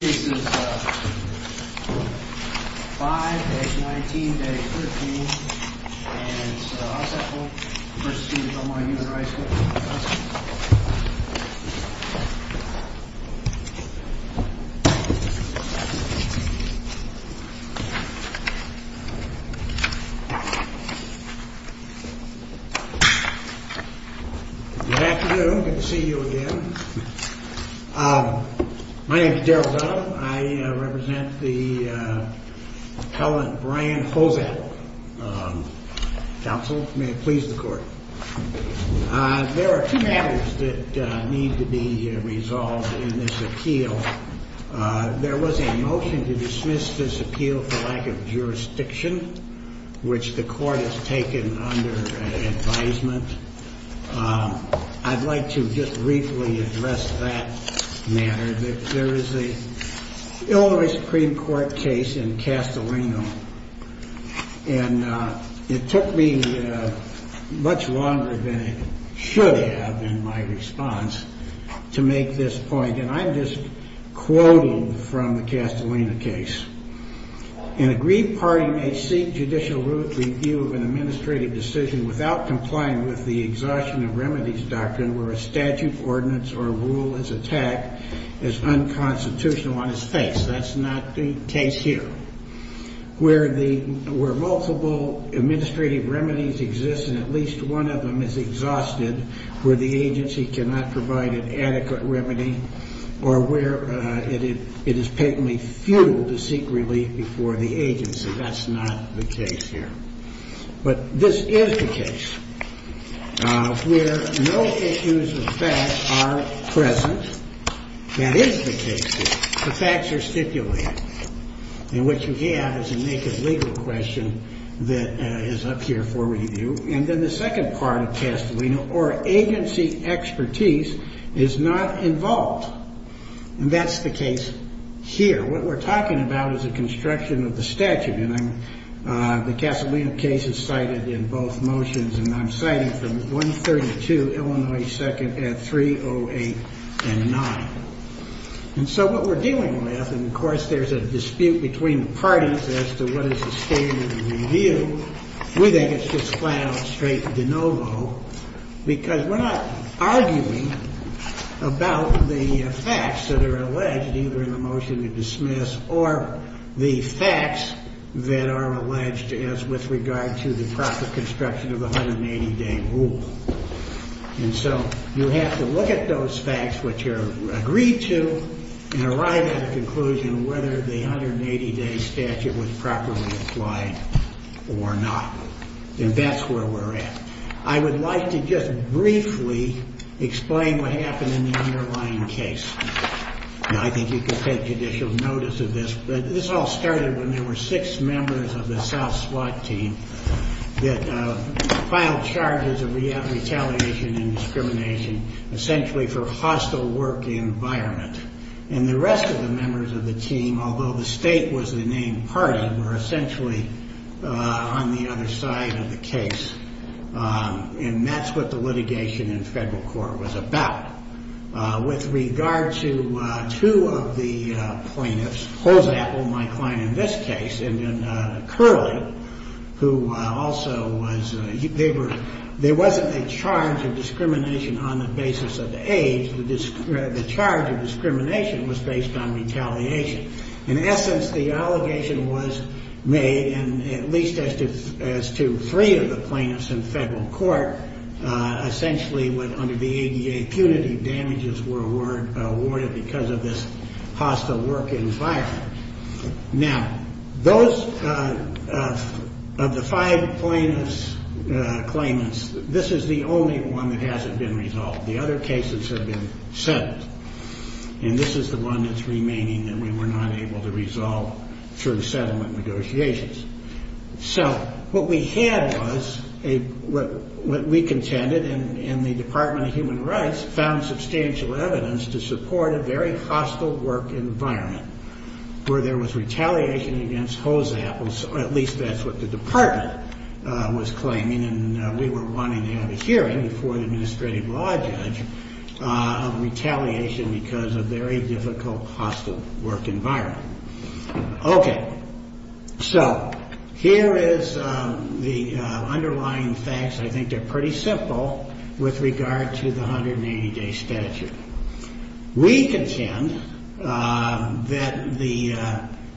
This is 5-19-13 and it's the Halsapple v. State of Illinois Human Rights Commission. Good afternoon. Good to see you again. My name is Darrell Dunham. I represent the Helen Brian Hobat Council. May it please the Court. There are two matters that need to be resolved in this appeal. There was a motion to dismiss this appeal for lack of jurisdiction, which the Court has taken under advisement. I'd like to just briefly address that matter. There is an Illinois Supreme Court case in Castellano, and it took me much longer than it should have in my response to make this point, and I'm just quoting from the Castellano case. An agreed party may seek judicial root review of an administrative decision without complying with the on his face. That's not the case here. Where multiple administrative remedies exist and at least one of them is exhausted, where the agency cannot provide an adequate remedy, or where it is patently futile to seek relief before the agency. That's not the case here. But this is the case where no issues of facts are present. That is the case here. The facts are stipulated. And what you have is a naked legal question that is up here for review. And then the second part of Castellano, or agency expertise is not involved. And that's the case here. What we're talking about is a construction of the statute. And the Castellano case is cited in both motions, and I'm citing from 132 Illinois 2nd at 308 and 9. And so what we're dealing with, and of course there's a dispute between the parties as to what is the standard of review, we think it's just flat out straight de novo, because we're not arguing about the facts that are alleged either in the motion to dismiss or the facts that are alleged as with regard to the proper construction of the 180-day rule. And so you have to look at those facts which are agreed to and arrive at a conclusion whether the 180-day statute was properly applied or not. And that's where we're at. I would like to just briefly explain what happened in the underlying case. I think you can take judicial notice of this, but this all started when there were six members of the South SWAT team that filed charges of retaliation and discrimination essentially for hostile work environment. And the rest of the members of the team, although the state was the named party, were essentially on the other side of the case. And that's what the litigation in federal court was about. With regard to two of the plaintiffs, my client in this case, and then Curley, who also was, there wasn't a charge of discrimination on the basis of age. The charge of discrimination was based on retaliation. In essence, the allegation was made, and at least as to three of the plaintiffs in federal court, essentially under the ADA, impunity damages were awarded because of this hostile work environment. Now, those of the five plaintiffs' claimants, this is the only one that hasn't been resolved. The other cases have been settled. And this is the one that's remaining that we were not able to resolve through settlement negotiations. So what we had was, what we contended, and the Department of Human Rights found substantial evidence to support a very hostile work environment where there was retaliation against hose apples, or at least that's what the department was claiming, and we were wanting to have a hearing before the administrative law judge of retaliation because of very difficult hostile work environment. Okay. So here is the underlying facts. I think they're pretty simple with regard to the 180-day statute. We contend that the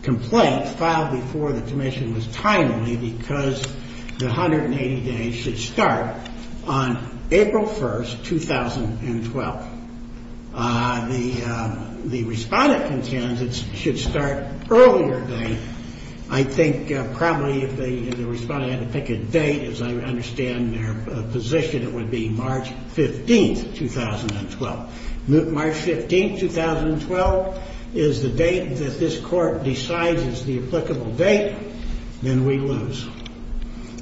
complaint filed before the commission was timely because the 180 days should start on April 1st, 2012. The respondent contends it should start earlier than that. I think probably if the respondent had to pick a date, as I understand their position, it would be March 15th, 2012. March 15th, 2012 is the date that this court decides is the applicable date, then we lose.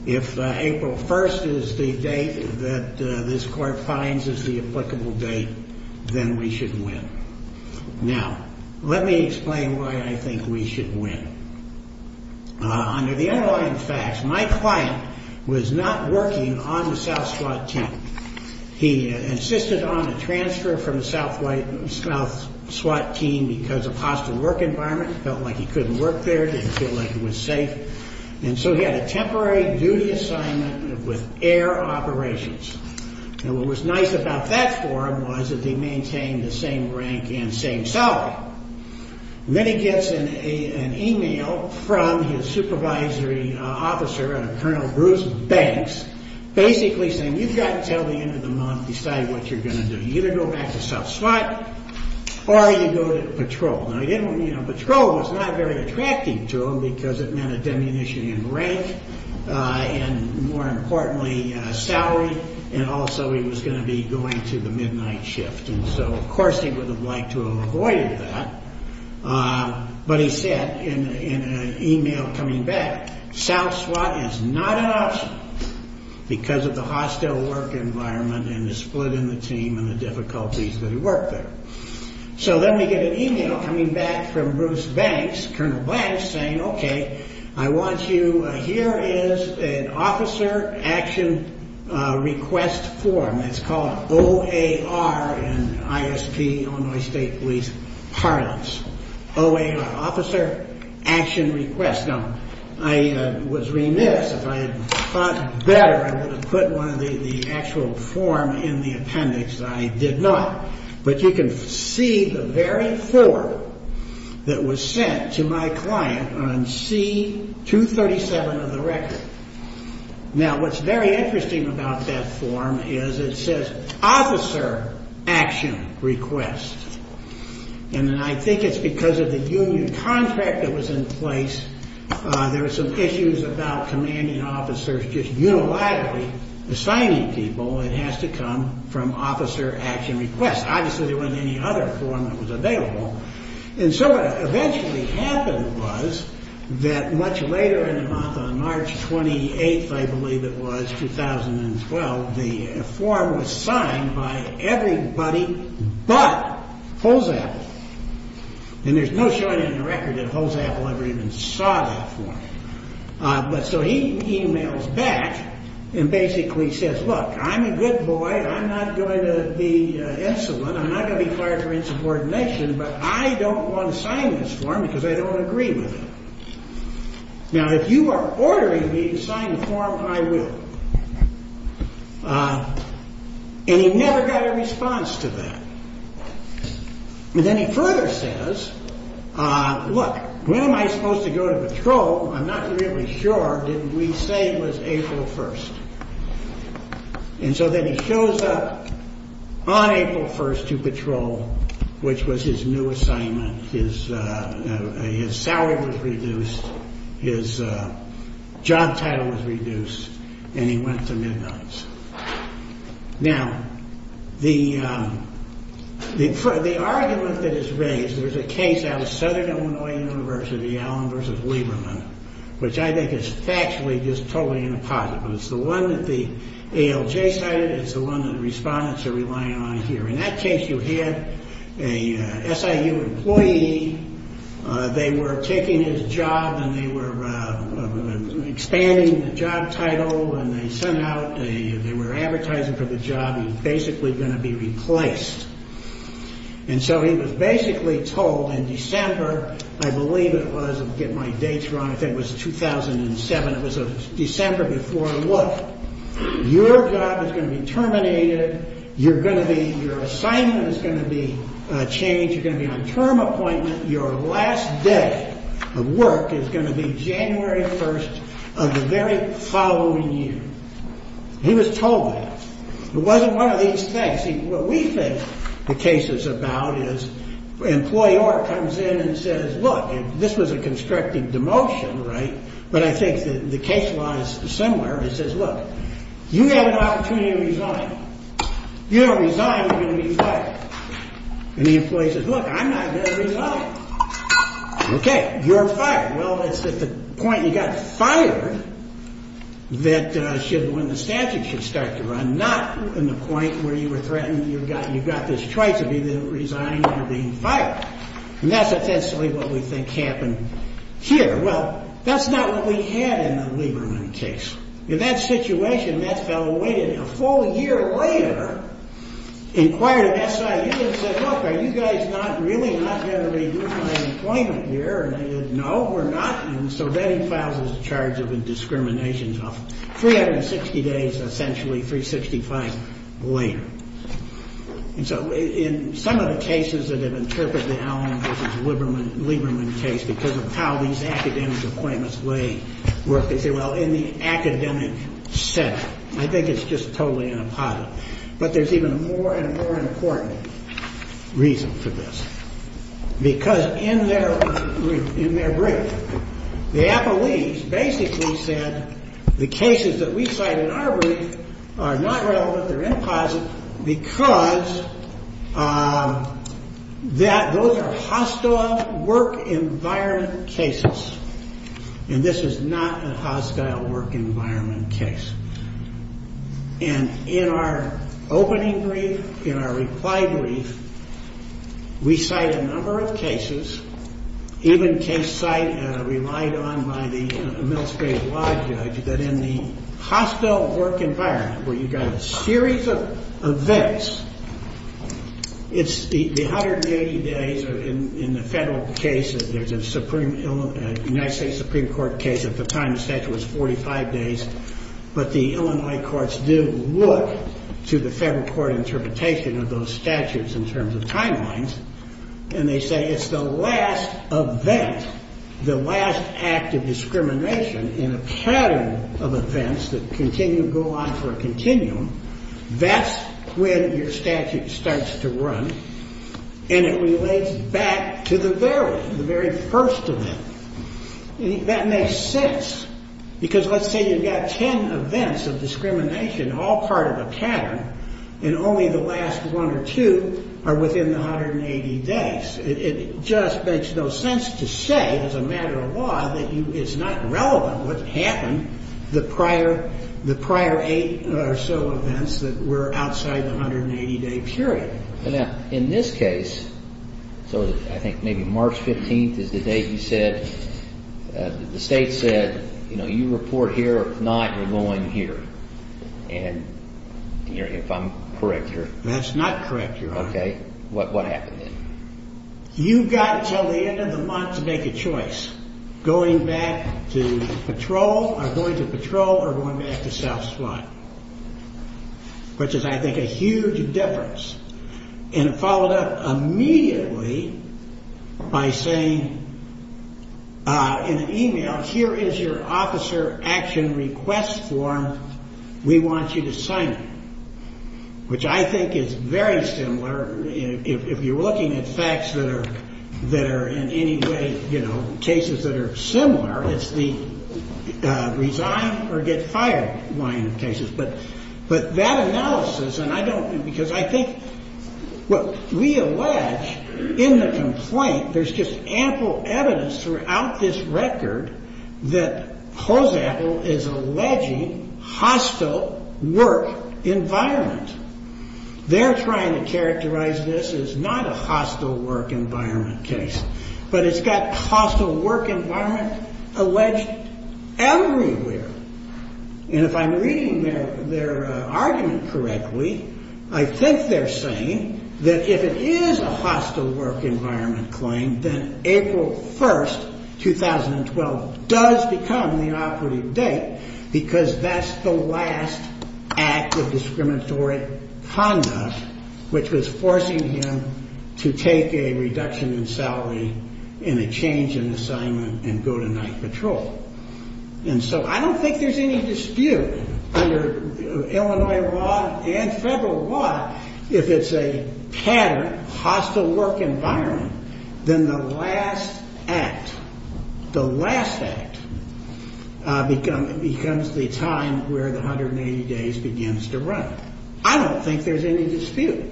If April 1st is the date that this court finds is the applicable date, then we should win. Now, let me explain why I think we should win. Under the underlying facts, my client was not working on the South SWAT team. He insisted on a transfer from the South SWAT team because of hostile work environment, felt like he couldn't work there, didn't feel like it was safe. And so he had a temporary duty assignment with air operations. And what was nice about that for him was that they maintained the same rank and same salary. And then he gets an email from his supervisory officer, Colonel Bruce Banks, basically saying, you've got until the end of the month to decide what you're going to do. You either go back to South SWAT or you go to patrol. Now, patrol was not very attractive to him because it meant a diminution in rank and, more importantly, salary. And also he was going to be going to the midnight shift. And so, of course, he would have liked to have avoided that. But he said in an email coming back, South SWAT is not an option because of the hostile work environment and the split in the team and the difficulties that he worked there. So then we get an email coming back from Bruce Banks, Colonel Banks, saying, OK, I want you, here is an officer action request form. It's called OAR in ISP, Illinois State Police, parlance. OAR, Officer Action Request. Now, I was remiss. If I had thought better, I would have put one of the actual forms in the appendix. I did not. But you can see the very form that was sent to my client on C-237 of the record. Now, what's very interesting about that form is it says Officer Action Request. And I think it's because of the union contract that was in place. There were some issues about commanding officers just unilaterally assigning people. It has to come from Officer Action Request. Obviously, there wasn't any other form that was available. And so what eventually happened was that much later in the month, on March 28th, I believe it was, 2012, the form was signed by everybody but Holzapfel. And there's no showing in the record that Holzapfel ever even saw that form. But so he emails back and basically says, look, I'm a good boy. I'm not going to be insolent. I'm not going to be fired for insubordination. But I don't want to sign this form because I don't agree with it. Now, if you are ordering me to sign the form, I will. And he never got a response to that. And then he further says, look, when am I supposed to go to patrol? I'm not really sure. Didn't we say it was April 1st? And so then he shows up on April 1st to patrol, which was his new assignment. His salary was reduced. His job title was reduced. And he went to midnights. Now, the argument that is raised, there's a case out of Southern Illinois University, Allen v. Lieberman, which I think is factually just totally inapposite. But it's the one that the ALJ cited. It's the one that the respondents are relying on here. In that case, you had a SIU employee. They were taking his job and they were expanding the job title. And they sent out, they were advertising for the job. He was basically going to be replaced. And so he was basically told in December, I believe it was, I'll get my dates wrong, I think it was 2007. It was December before. Look, your job is going to be terminated. You're going to be, your assignment is going to be changed. You're going to be on term appointment. Your last day of work is going to be January 1st of the very following year. He was told that. It wasn't one of these things. What we think the case is about is an employee comes in and says, look, this was a constructive demotion, right? But I think the case law is similar. It says, look, you had an opportunity to resign. You don't resign, you're going to be fired. And the employee says, look, I'm not going to resign. Okay. You're fired. Well, it's at the point you got fired that should, when the statute should start to run, not in the point where you were threatened, you've got this choice of either resigning or being fired. And that's essentially what we think happened here. Well, that's not what we had in the Lieberman case. In that situation, that fellow waited a full year later, inquired at SIU, and said, look, are you guys really not going to renew my appointment here? And they said, no, we're not. And so then he files his charge of indiscriminations of 360 days, essentially 365 later. And so in some of the cases that have been interpreted now in the Lieberman case, because of how these academic appointments lay, they say, well, in the academic sense. I think it's just totally inappropriate. But there's even a more and more important reason for this. Because in their brief, the appellees basically said, the cases that we cite in our brief are not relevant, they're inappropriate, because those are hostile work environment cases. And this is not a hostile work environment case. And in our opening brief, in our reply brief, we cite a number of cases, even a case relied on by the Middle State law judge, that in the hostile work environment, where you've got a series of events, it's the 180 days in the federal cases. There's a United States Supreme Court case at the time the statute was 45 days. But the Illinois courts do look to the federal court interpretation of those statutes in terms of timelines. And they say it's the last event, the last act of discrimination in a pattern of events that continue to go on for a continuum. That's when your statute starts to run, and it relates back to the very first event. That makes sense, because let's say you've got 10 events of discrimination, all part of a pattern, and only the last one or two are within the 180 days. It just makes no sense to say, as a matter of law, that it's not relevant what happened the prior eight or so events that were outside the 180-day period. Now, in this case, so I think maybe March 15th is the date you said, the state said, you know, you report here, or if not, you're going here. And if I'm correct here. That's not correct, Your Honor. Okay. What happened then? You've got until the end of the month to make a choice, going back to patrol or going to patrol or going back to self-define, which is, I think, a huge difference. And it followed up immediately by saying in an email, here is your officer action request form. We want you to sign it, which I think is very similar. If you're looking at facts that are in any way, you know, cases that are similar, it's the resign or get fired line of cases. But that analysis, and I don't, because I think, what we allege in the complaint, there's just ample evidence throughout this record that Hoseapple is alleging hostile work environment. They're trying to characterize this as not a hostile work environment case, but it's got hostile work environment alleged everywhere. And if I'm reading their argument correctly, I think they're saying that if it is a hostile work environment claim, then April 1st, 2012 does become the operative date because that's the last act of discriminatory conduct, which was forcing him to take a reduction in salary and a change in assignment and go to night patrol. And so I don't think there's any dispute under Illinois law and federal law if it's a pattern, hostile work environment, then the last act, the last act, becomes the time where the 180 days begins to run. I don't think there's any dispute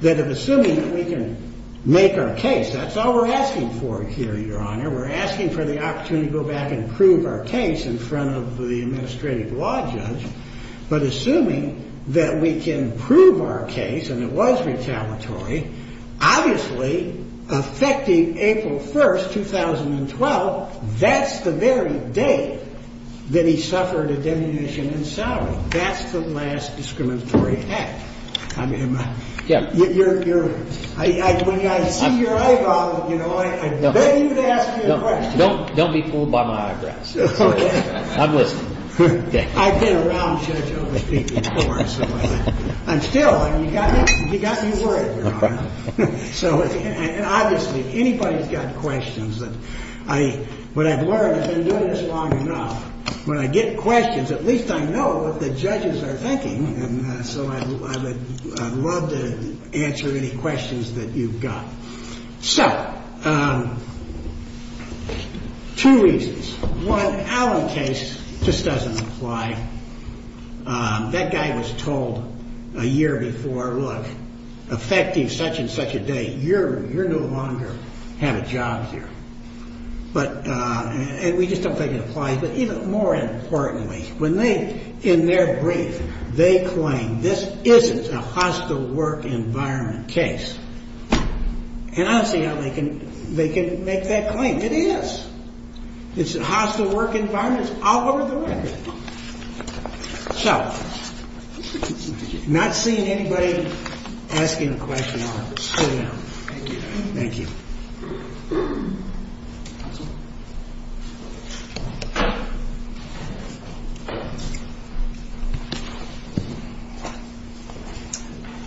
that if assuming that we can make our case, that's all we're asking for here, Your Honor. We're asking for the opportunity to go back and prove our case in front of the administrative law judge. But assuming that we can prove our case and it was retaliatory, obviously affecting April 1st, 2012, that's the very date that he suffered a diminution in salary. That's the last discriminatory act. I mean, you're – when I see your eyeball, you know, I bet you'd ask me a question. Don't be fooled by my eyebrows. I'm listening. I've been around Judge Overstreet before, so I'm still – you got me worried, Your Honor. And obviously, if anybody's got questions, what I've learned is I've been doing this long enough. When I get questions, at least I know what the judges are thinking, and so I would love to answer any questions that you've got. So, two reasons. One, Allen case just doesn't apply. That guy was told a year before, look, affecting such and such a date, you're no longer going to have a job here. And we just don't think it applies. But even more importantly, when they – in their brief, they claim this isn't a hostile work environment case. And honestly, they can make that claim. It is. It's a hostile work environment. It's all over the record. So, not seeing anybody asking a question, Your Honor. Thank you. Thank you.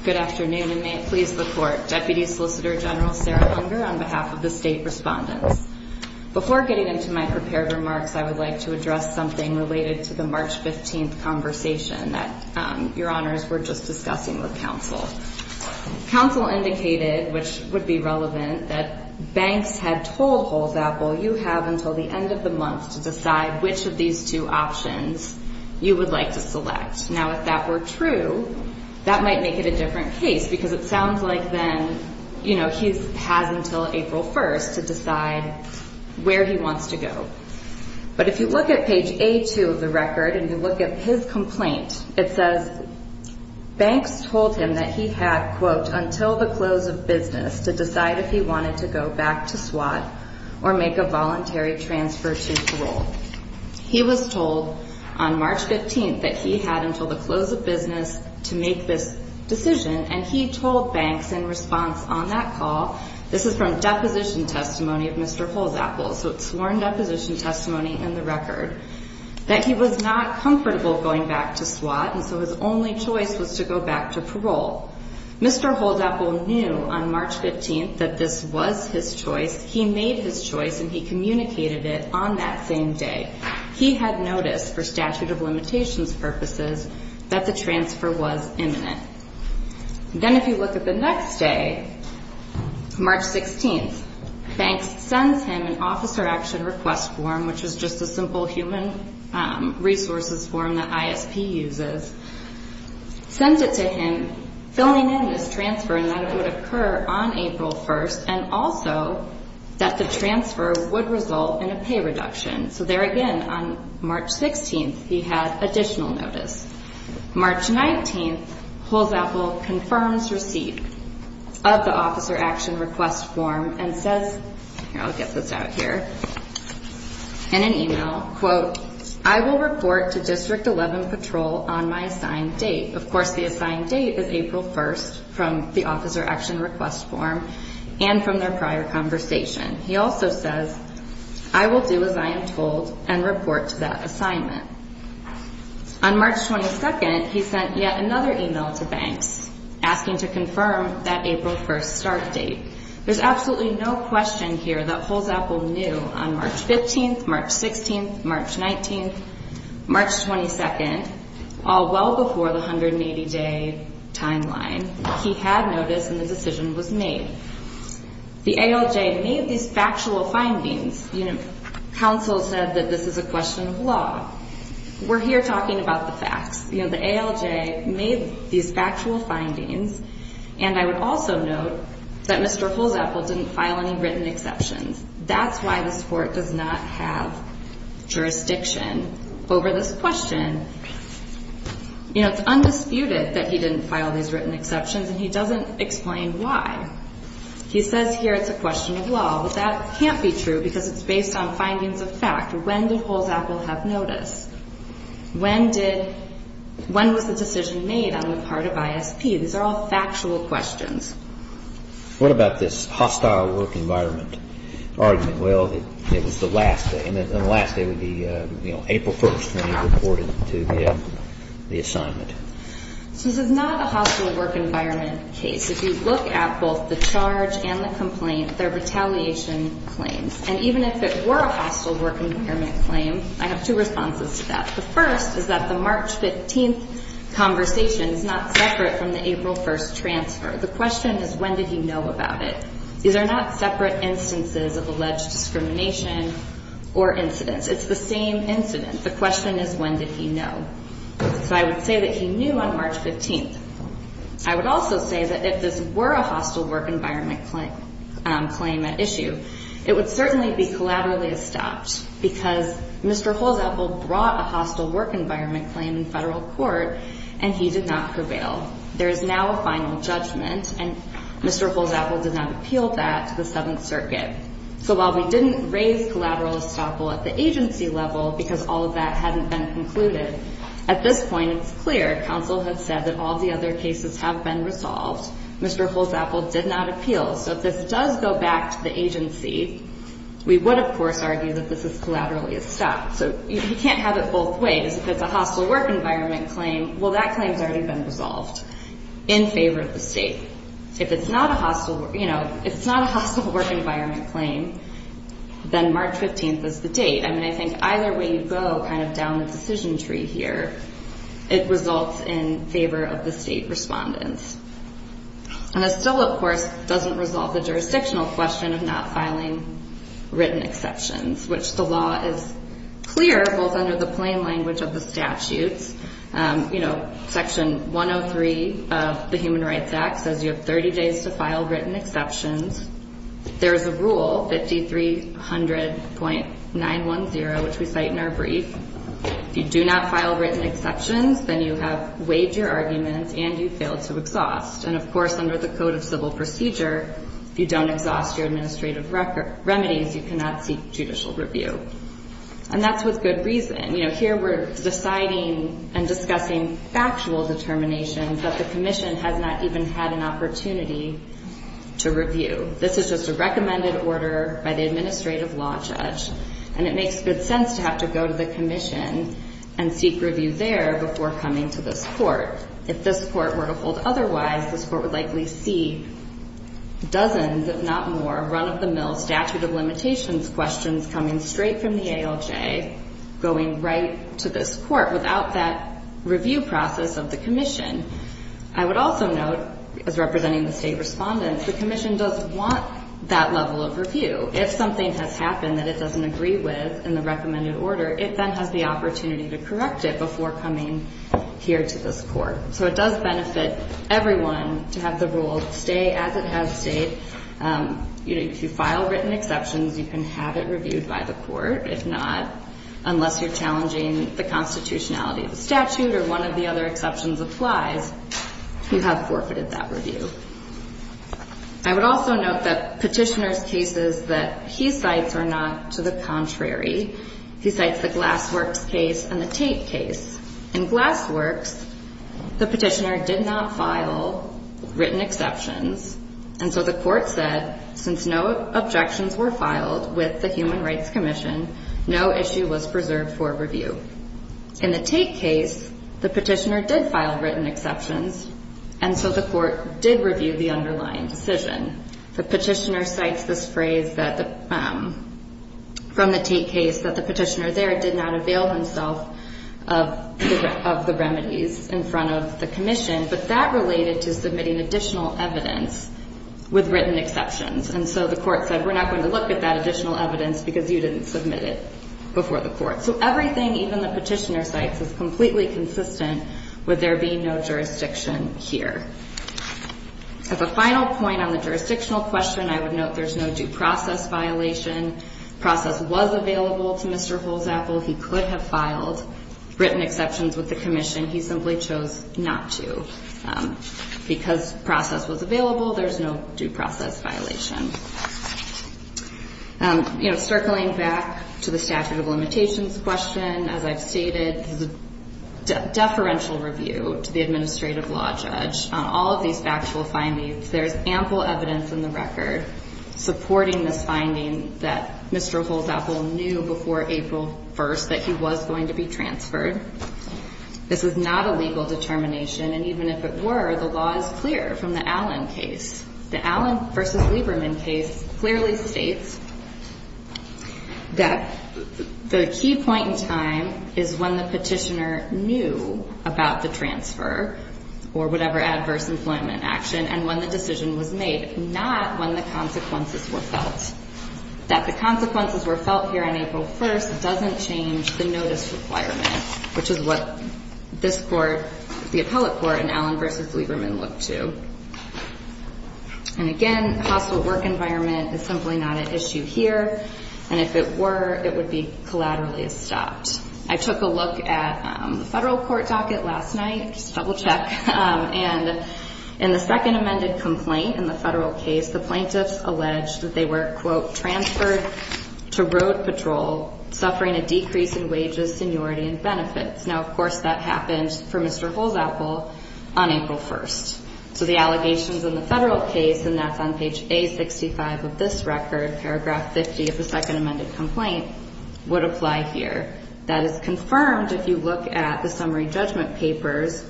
Good afternoon, and may it please the Court. Deputy Solicitor General Sarah Hunger on behalf of the State Respondents. Before getting into my prepared remarks, I would like to address something related to the March 15th conversation that Your Honors were just discussing with counsel. Counsel indicated, which would be relevant, that banks had told Holds Apple, you have until the end of the month to decide which of these two options you would like to select. Now, if that were true, that might make it a different case, because it sounds like then, you know, he has until April 1st to decide where he wants to go. But if you look at page A2 of the record and you look at his complaint, it says banks told him that he had, quote, until the close of business to decide if he wanted to go back to SWAT or make a voluntary transfer to parole. He was told on March 15th that he had until the close of business to make this decision, and he told banks in response on that call, this is from deposition testimony of Mr. Holds Apple, so it's sworn deposition testimony in the record, that he was not comfortable going back to SWAT, and so his only choice was to go back to parole. Mr. Holds Apple knew on March 15th that this was his choice. He made his choice, and he communicated it on that same day. He had noticed, for statute of limitations purposes, that the transfer was imminent. Then if you look at the next day, March 16th, banks sends him an officer action request form, which is just a simple human resources form that ISP uses, sends it to him, filling in this transfer, and that it would occur on April 1st, and also that the transfer would result in a pay reduction. So there again, on March 16th, he had additional notice. March 19th, Holds Apple confirms receipt of the officer action request form and says, I'll get this out here, in an email, quote, I will report to District 11 patrol on my assigned date. Of course, the assigned date is April 1st from the officer action request form and from their prior conversation. He also says, I will do as I am told and report to that assignment. On March 22nd, he sent yet another email to banks asking to confirm that April 1st start date. There's absolutely no question here that Holds Apple knew on March 15th, March 16th, March 19th, March 22nd, all well before the 180-day timeline, he had noticed and the decision was made. The ALJ made these factual findings. You know, counsel said that this is a question of law. We're here talking about the facts. You know, the ALJ made these factual findings, and I would also note that Mr. Holds Apple didn't file any written exceptions. That's why this court does not have jurisdiction over this question. You know, it's undisputed that he didn't file these written exceptions, and he doesn't explain why. He says here it's a question of law, but that can't be true because it's based on findings of fact. When did Holds Apple have notice? When did ñ when was the decision made on the part of ISP? These are all factual questions. What about this hostile work environment argument? Well, it was the last day, and the last day would be, you know, April 1st when he reported to the assignment. This is not a hostile work environment case. If you look at both the charge and the complaint, they're retaliation claims. And even if it were a hostile work environment claim, I have two responses to that. The first is that the March 15th conversation is not separate from the April 1st transfer. The question is when did he know about it. These are not separate instances of alleged discrimination or incidents. It's the same incident. The question is when did he know. So I would say that he knew on March 15th. I would also say that if this were a hostile work environment claim at issue, it would certainly be collaterally estopped because Mr. Holds Apple brought a hostile work environment claim in federal court, and he did not prevail. There is now a final judgment, and Mr. Holds Apple did not appeal that to the Seventh Circuit. So while we didn't raise collateral estoppel at the agency level because all of that hadn't been concluded, at this point it's clear counsel has said that all of the other cases have been resolved. Mr. Holds Apple did not appeal. So if this does go back to the agency, we would, of course, argue that this is collaterally estopped. So you can't have it both ways. If it's a hostile work environment claim, well, that claim has already been resolved in favor of the state. If it's not a hostile work environment claim, then March 15th is the date. I mean, I think either way you go kind of down the decision tree here, it results in favor of the state respondents. And it still, of course, doesn't resolve the jurisdictional question of not filing written exceptions, which the law is clear both under the plain language of the statutes. You know, Section 103 of the Human Rights Act says you have 30 days to file written exceptions. There is a rule, 5300.910, which we cite in our brief. If you do not file written exceptions, then you have waived your arguments and you fail to exhaust. And, of course, under the Code of Civil Procedure, if you don't exhaust your administrative remedies, you cannot seek judicial review. And that's with good reason. You know, here we're deciding and discussing factual determinations that the commission has not even had an opportunity to review. This is just a recommended order by the administrative law judge, and it makes good sense to have to go to the commission and seek review there before coming to this Court. If this Court were to hold otherwise, this Court would likely see dozens, if not more, run-of-the-mill statute of limitations questions coming straight from the ALJ going right to this Court without that review process of the commission. I would also note, as representing the state respondents, the commission does want that level of review. If something has happened that it doesn't agree with in the recommended order, it then has the opportunity to correct it before coming here to this Court. So it does benefit everyone to have the rule stay as it has stayed. You know, if you file written exceptions, you can have it reviewed by the Court. If not, unless you're challenging the constitutionality of the statute or one of the other exceptions applies, you have forfeited that review. I would also note that Petitioner's cases that he cites are not to the contrary. He cites the Glassworks case and the Tate case. In Glassworks, the Petitioner did not file written exceptions. And so the Court said, since no objections were filed with the Human Rights Commission, no issue was preserved for review. In the Tate case, the Petitioner did file written exceptions, and so the Court did review the underlying decision. The Petitioner cites this phrase from the Tate case that the Petitioner there did not avail himself of the remedies in front of the commission, but that related to submitting additional evidence with written exceptions. And so the Court said, we're not going to look at that additional evidence because you didn't submit it before the Court. So everything, even the Petitioner cites, is completely consistent with there being no jurisdiction here. As a final point on the jurisdictional question, I would note there's no due process violation. Process was available to Mr. Holzapfel. He could have filed written exceptions with the commission. He simply chose not to. Because process was available, there's no due process violation. Circling back to the statute of limitations question, as I've stated, this is a deferential review to the administrative law judge on all of these factual findings. There's ample evidence in the record supporting this finding that Mr. Holzapfel knew before April 1st that he was going to be transferred. This was not a legal determination, and even if it were, the law is clear from the Allen case. The Allen v. Lieberman case clearly states that the key point in time is when the Petitioner knew about the transfer or whatever adverse employment action and when the decision was made, not when the consequences were felt. That the consequences were felt here on April 1st doesn't change the notice requirement, which is what this court, the appellate court in Allen v. Lieberman, looked to. And again, the hospital work environment is simply not an issue here, and if it were, it would be collaterally stopped. I took a look at the federal court docket last night, just to double-check, and in the second amended complaint in the federal case, the plaintiffs alleged that they were, quote, transferred to road patrol, suffering a decrease in wages, seniority, and benefits. Now, of course, that happened for Mr. Holzapfel on April 1st. So the allegations in the federal case, and that's on page A65 of this record, paragraph 50 of the second amended complaint, would apply here. That is confirmed if you look at the summary judgment papers,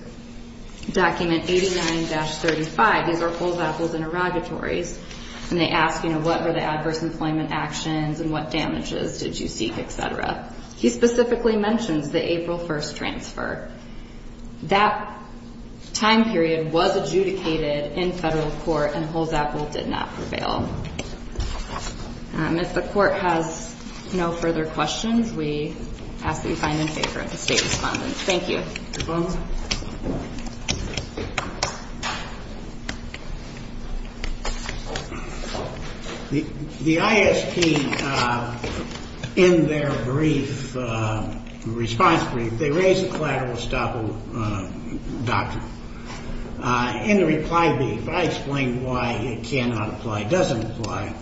document 89-35. These are Holzapfel's interrogatories, and they ask, you know, what were the adverse employment actions and what damages did you seek, et cetera. He specifically mentions the April 1st transfer. That time period was adjudicated in federal court, and Holzapfel did not prevail. If the court has no further questions, we ask that you find them in favor of the state respondent. Thank you. The ISP, in their brief, response brief, they raise a collateral estoppel doctrine. In the reply brief, I explained why it cannot apply, doesn't apply.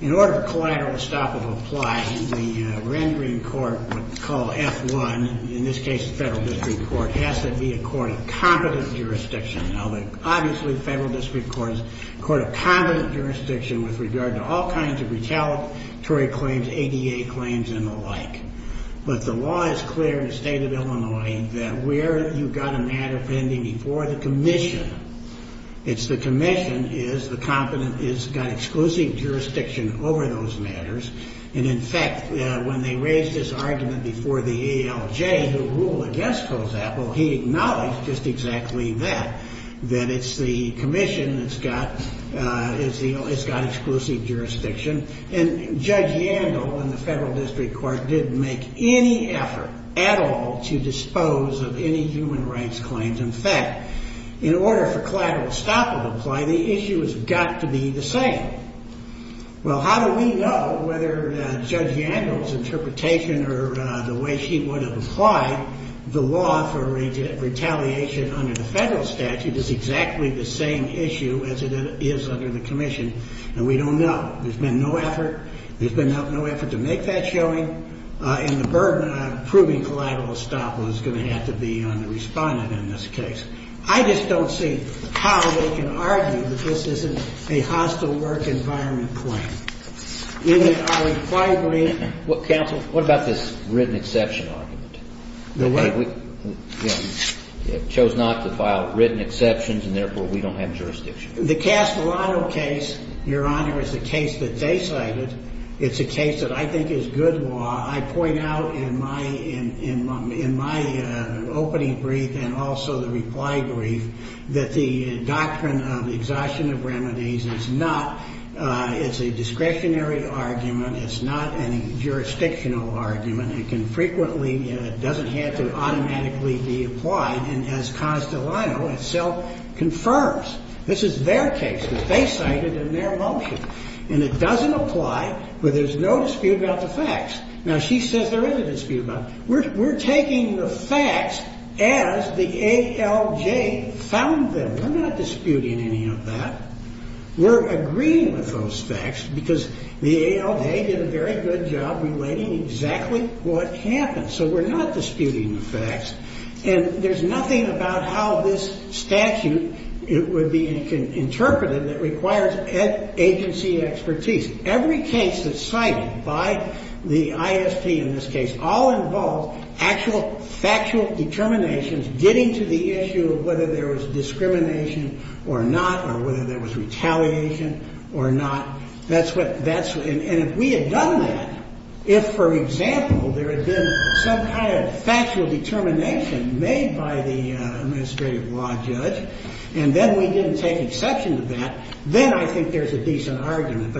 In order for collateral estoppel to apply, the rendering court would call F1, in this case the federal district court, has to be a court of competent jurisdiction. Now, obviously the federal district court is a court of competent jurisdiction with regard to all kinds of retaliatory claims, ADA claims, and the like. But the law is clear in the state of Illinois that where you've got a matter pending before the commission, it's the commission is the competent, it's got exclusive jurisdiction over those matters. And, in fact, when they raised this argument before the ALJ, who ruled against Holzapfel, he acknowledged just exactly that, that it's the commission that's got, it's got exclusive jurisdiction. And Judge Yandel in the federal district court didn't make any effort at all to dispose of any human rights claims. In fact, in order for collateral estoppel to apply, the issue has got to be the same. Well, how do we know whether Judge Yandel's interpretation or the way she would have applied the law for retaliation under the federal statute is exactly the same issue as it is under the commission? And we don't know. There's been no effort. There's been no effort to make that showing. And the burden of proving collateral estoppel is going to have to be on the respondent in this case. I just don't see how they can argue that this isn't a hostile work environment claim. I would quite agree. Well, counsel, what about this written exception argument? The what? They chose not to file written exceptions, and therefore we don't have jurisdiction. The Castellano case, Your Honor, is the case that they cited. It's a case that I think is good law. I point out in my opening brief and also the reply brief that the doctrine of exhaustion of remedies is not a discretionary argument. It's not a jurisdictional argument. It doesn't have to automatically be applied. And as Castellano itself confirms, this is their case that they cited in their motion. And it doesn't apply where there's no dispute about the facts. Now, she says there is a dispute about it. We're taking the facts as the ALJ found them. We're not disputing any of that. We're agreeing with those facts because the ALJ did a very good job relating exactly what happened. So we're not disputing the facts. And there's nothing about how this statute would be interpreted that requires agency expertise. Every case that's cited by the ISP in this case all involves actual factual determinations getting to the issue of whether there was discrimination or not or whether there was retaliation or not. And if we had done that, if, for example, there had been some kind of factual determination made by the administrative law judge, and then we didn't take exception to that, then I think there's a decent argument.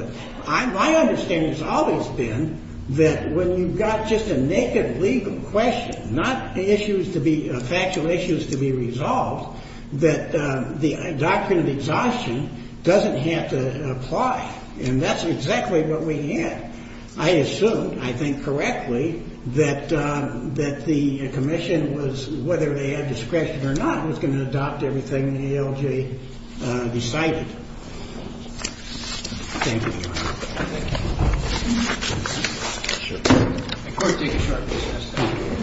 My understanding has always been that when you've got just a naked legal question, not factual issues to be resolved, that the doctrine of exhaustion doesn't have to apply. And that's exactly what we had. I assumed, I think correctly, that the commission, whether they had discretion or not, was going to adopt everything the ALJ decided. Thank you, Your Honor. Thank you. The court may take a short recess.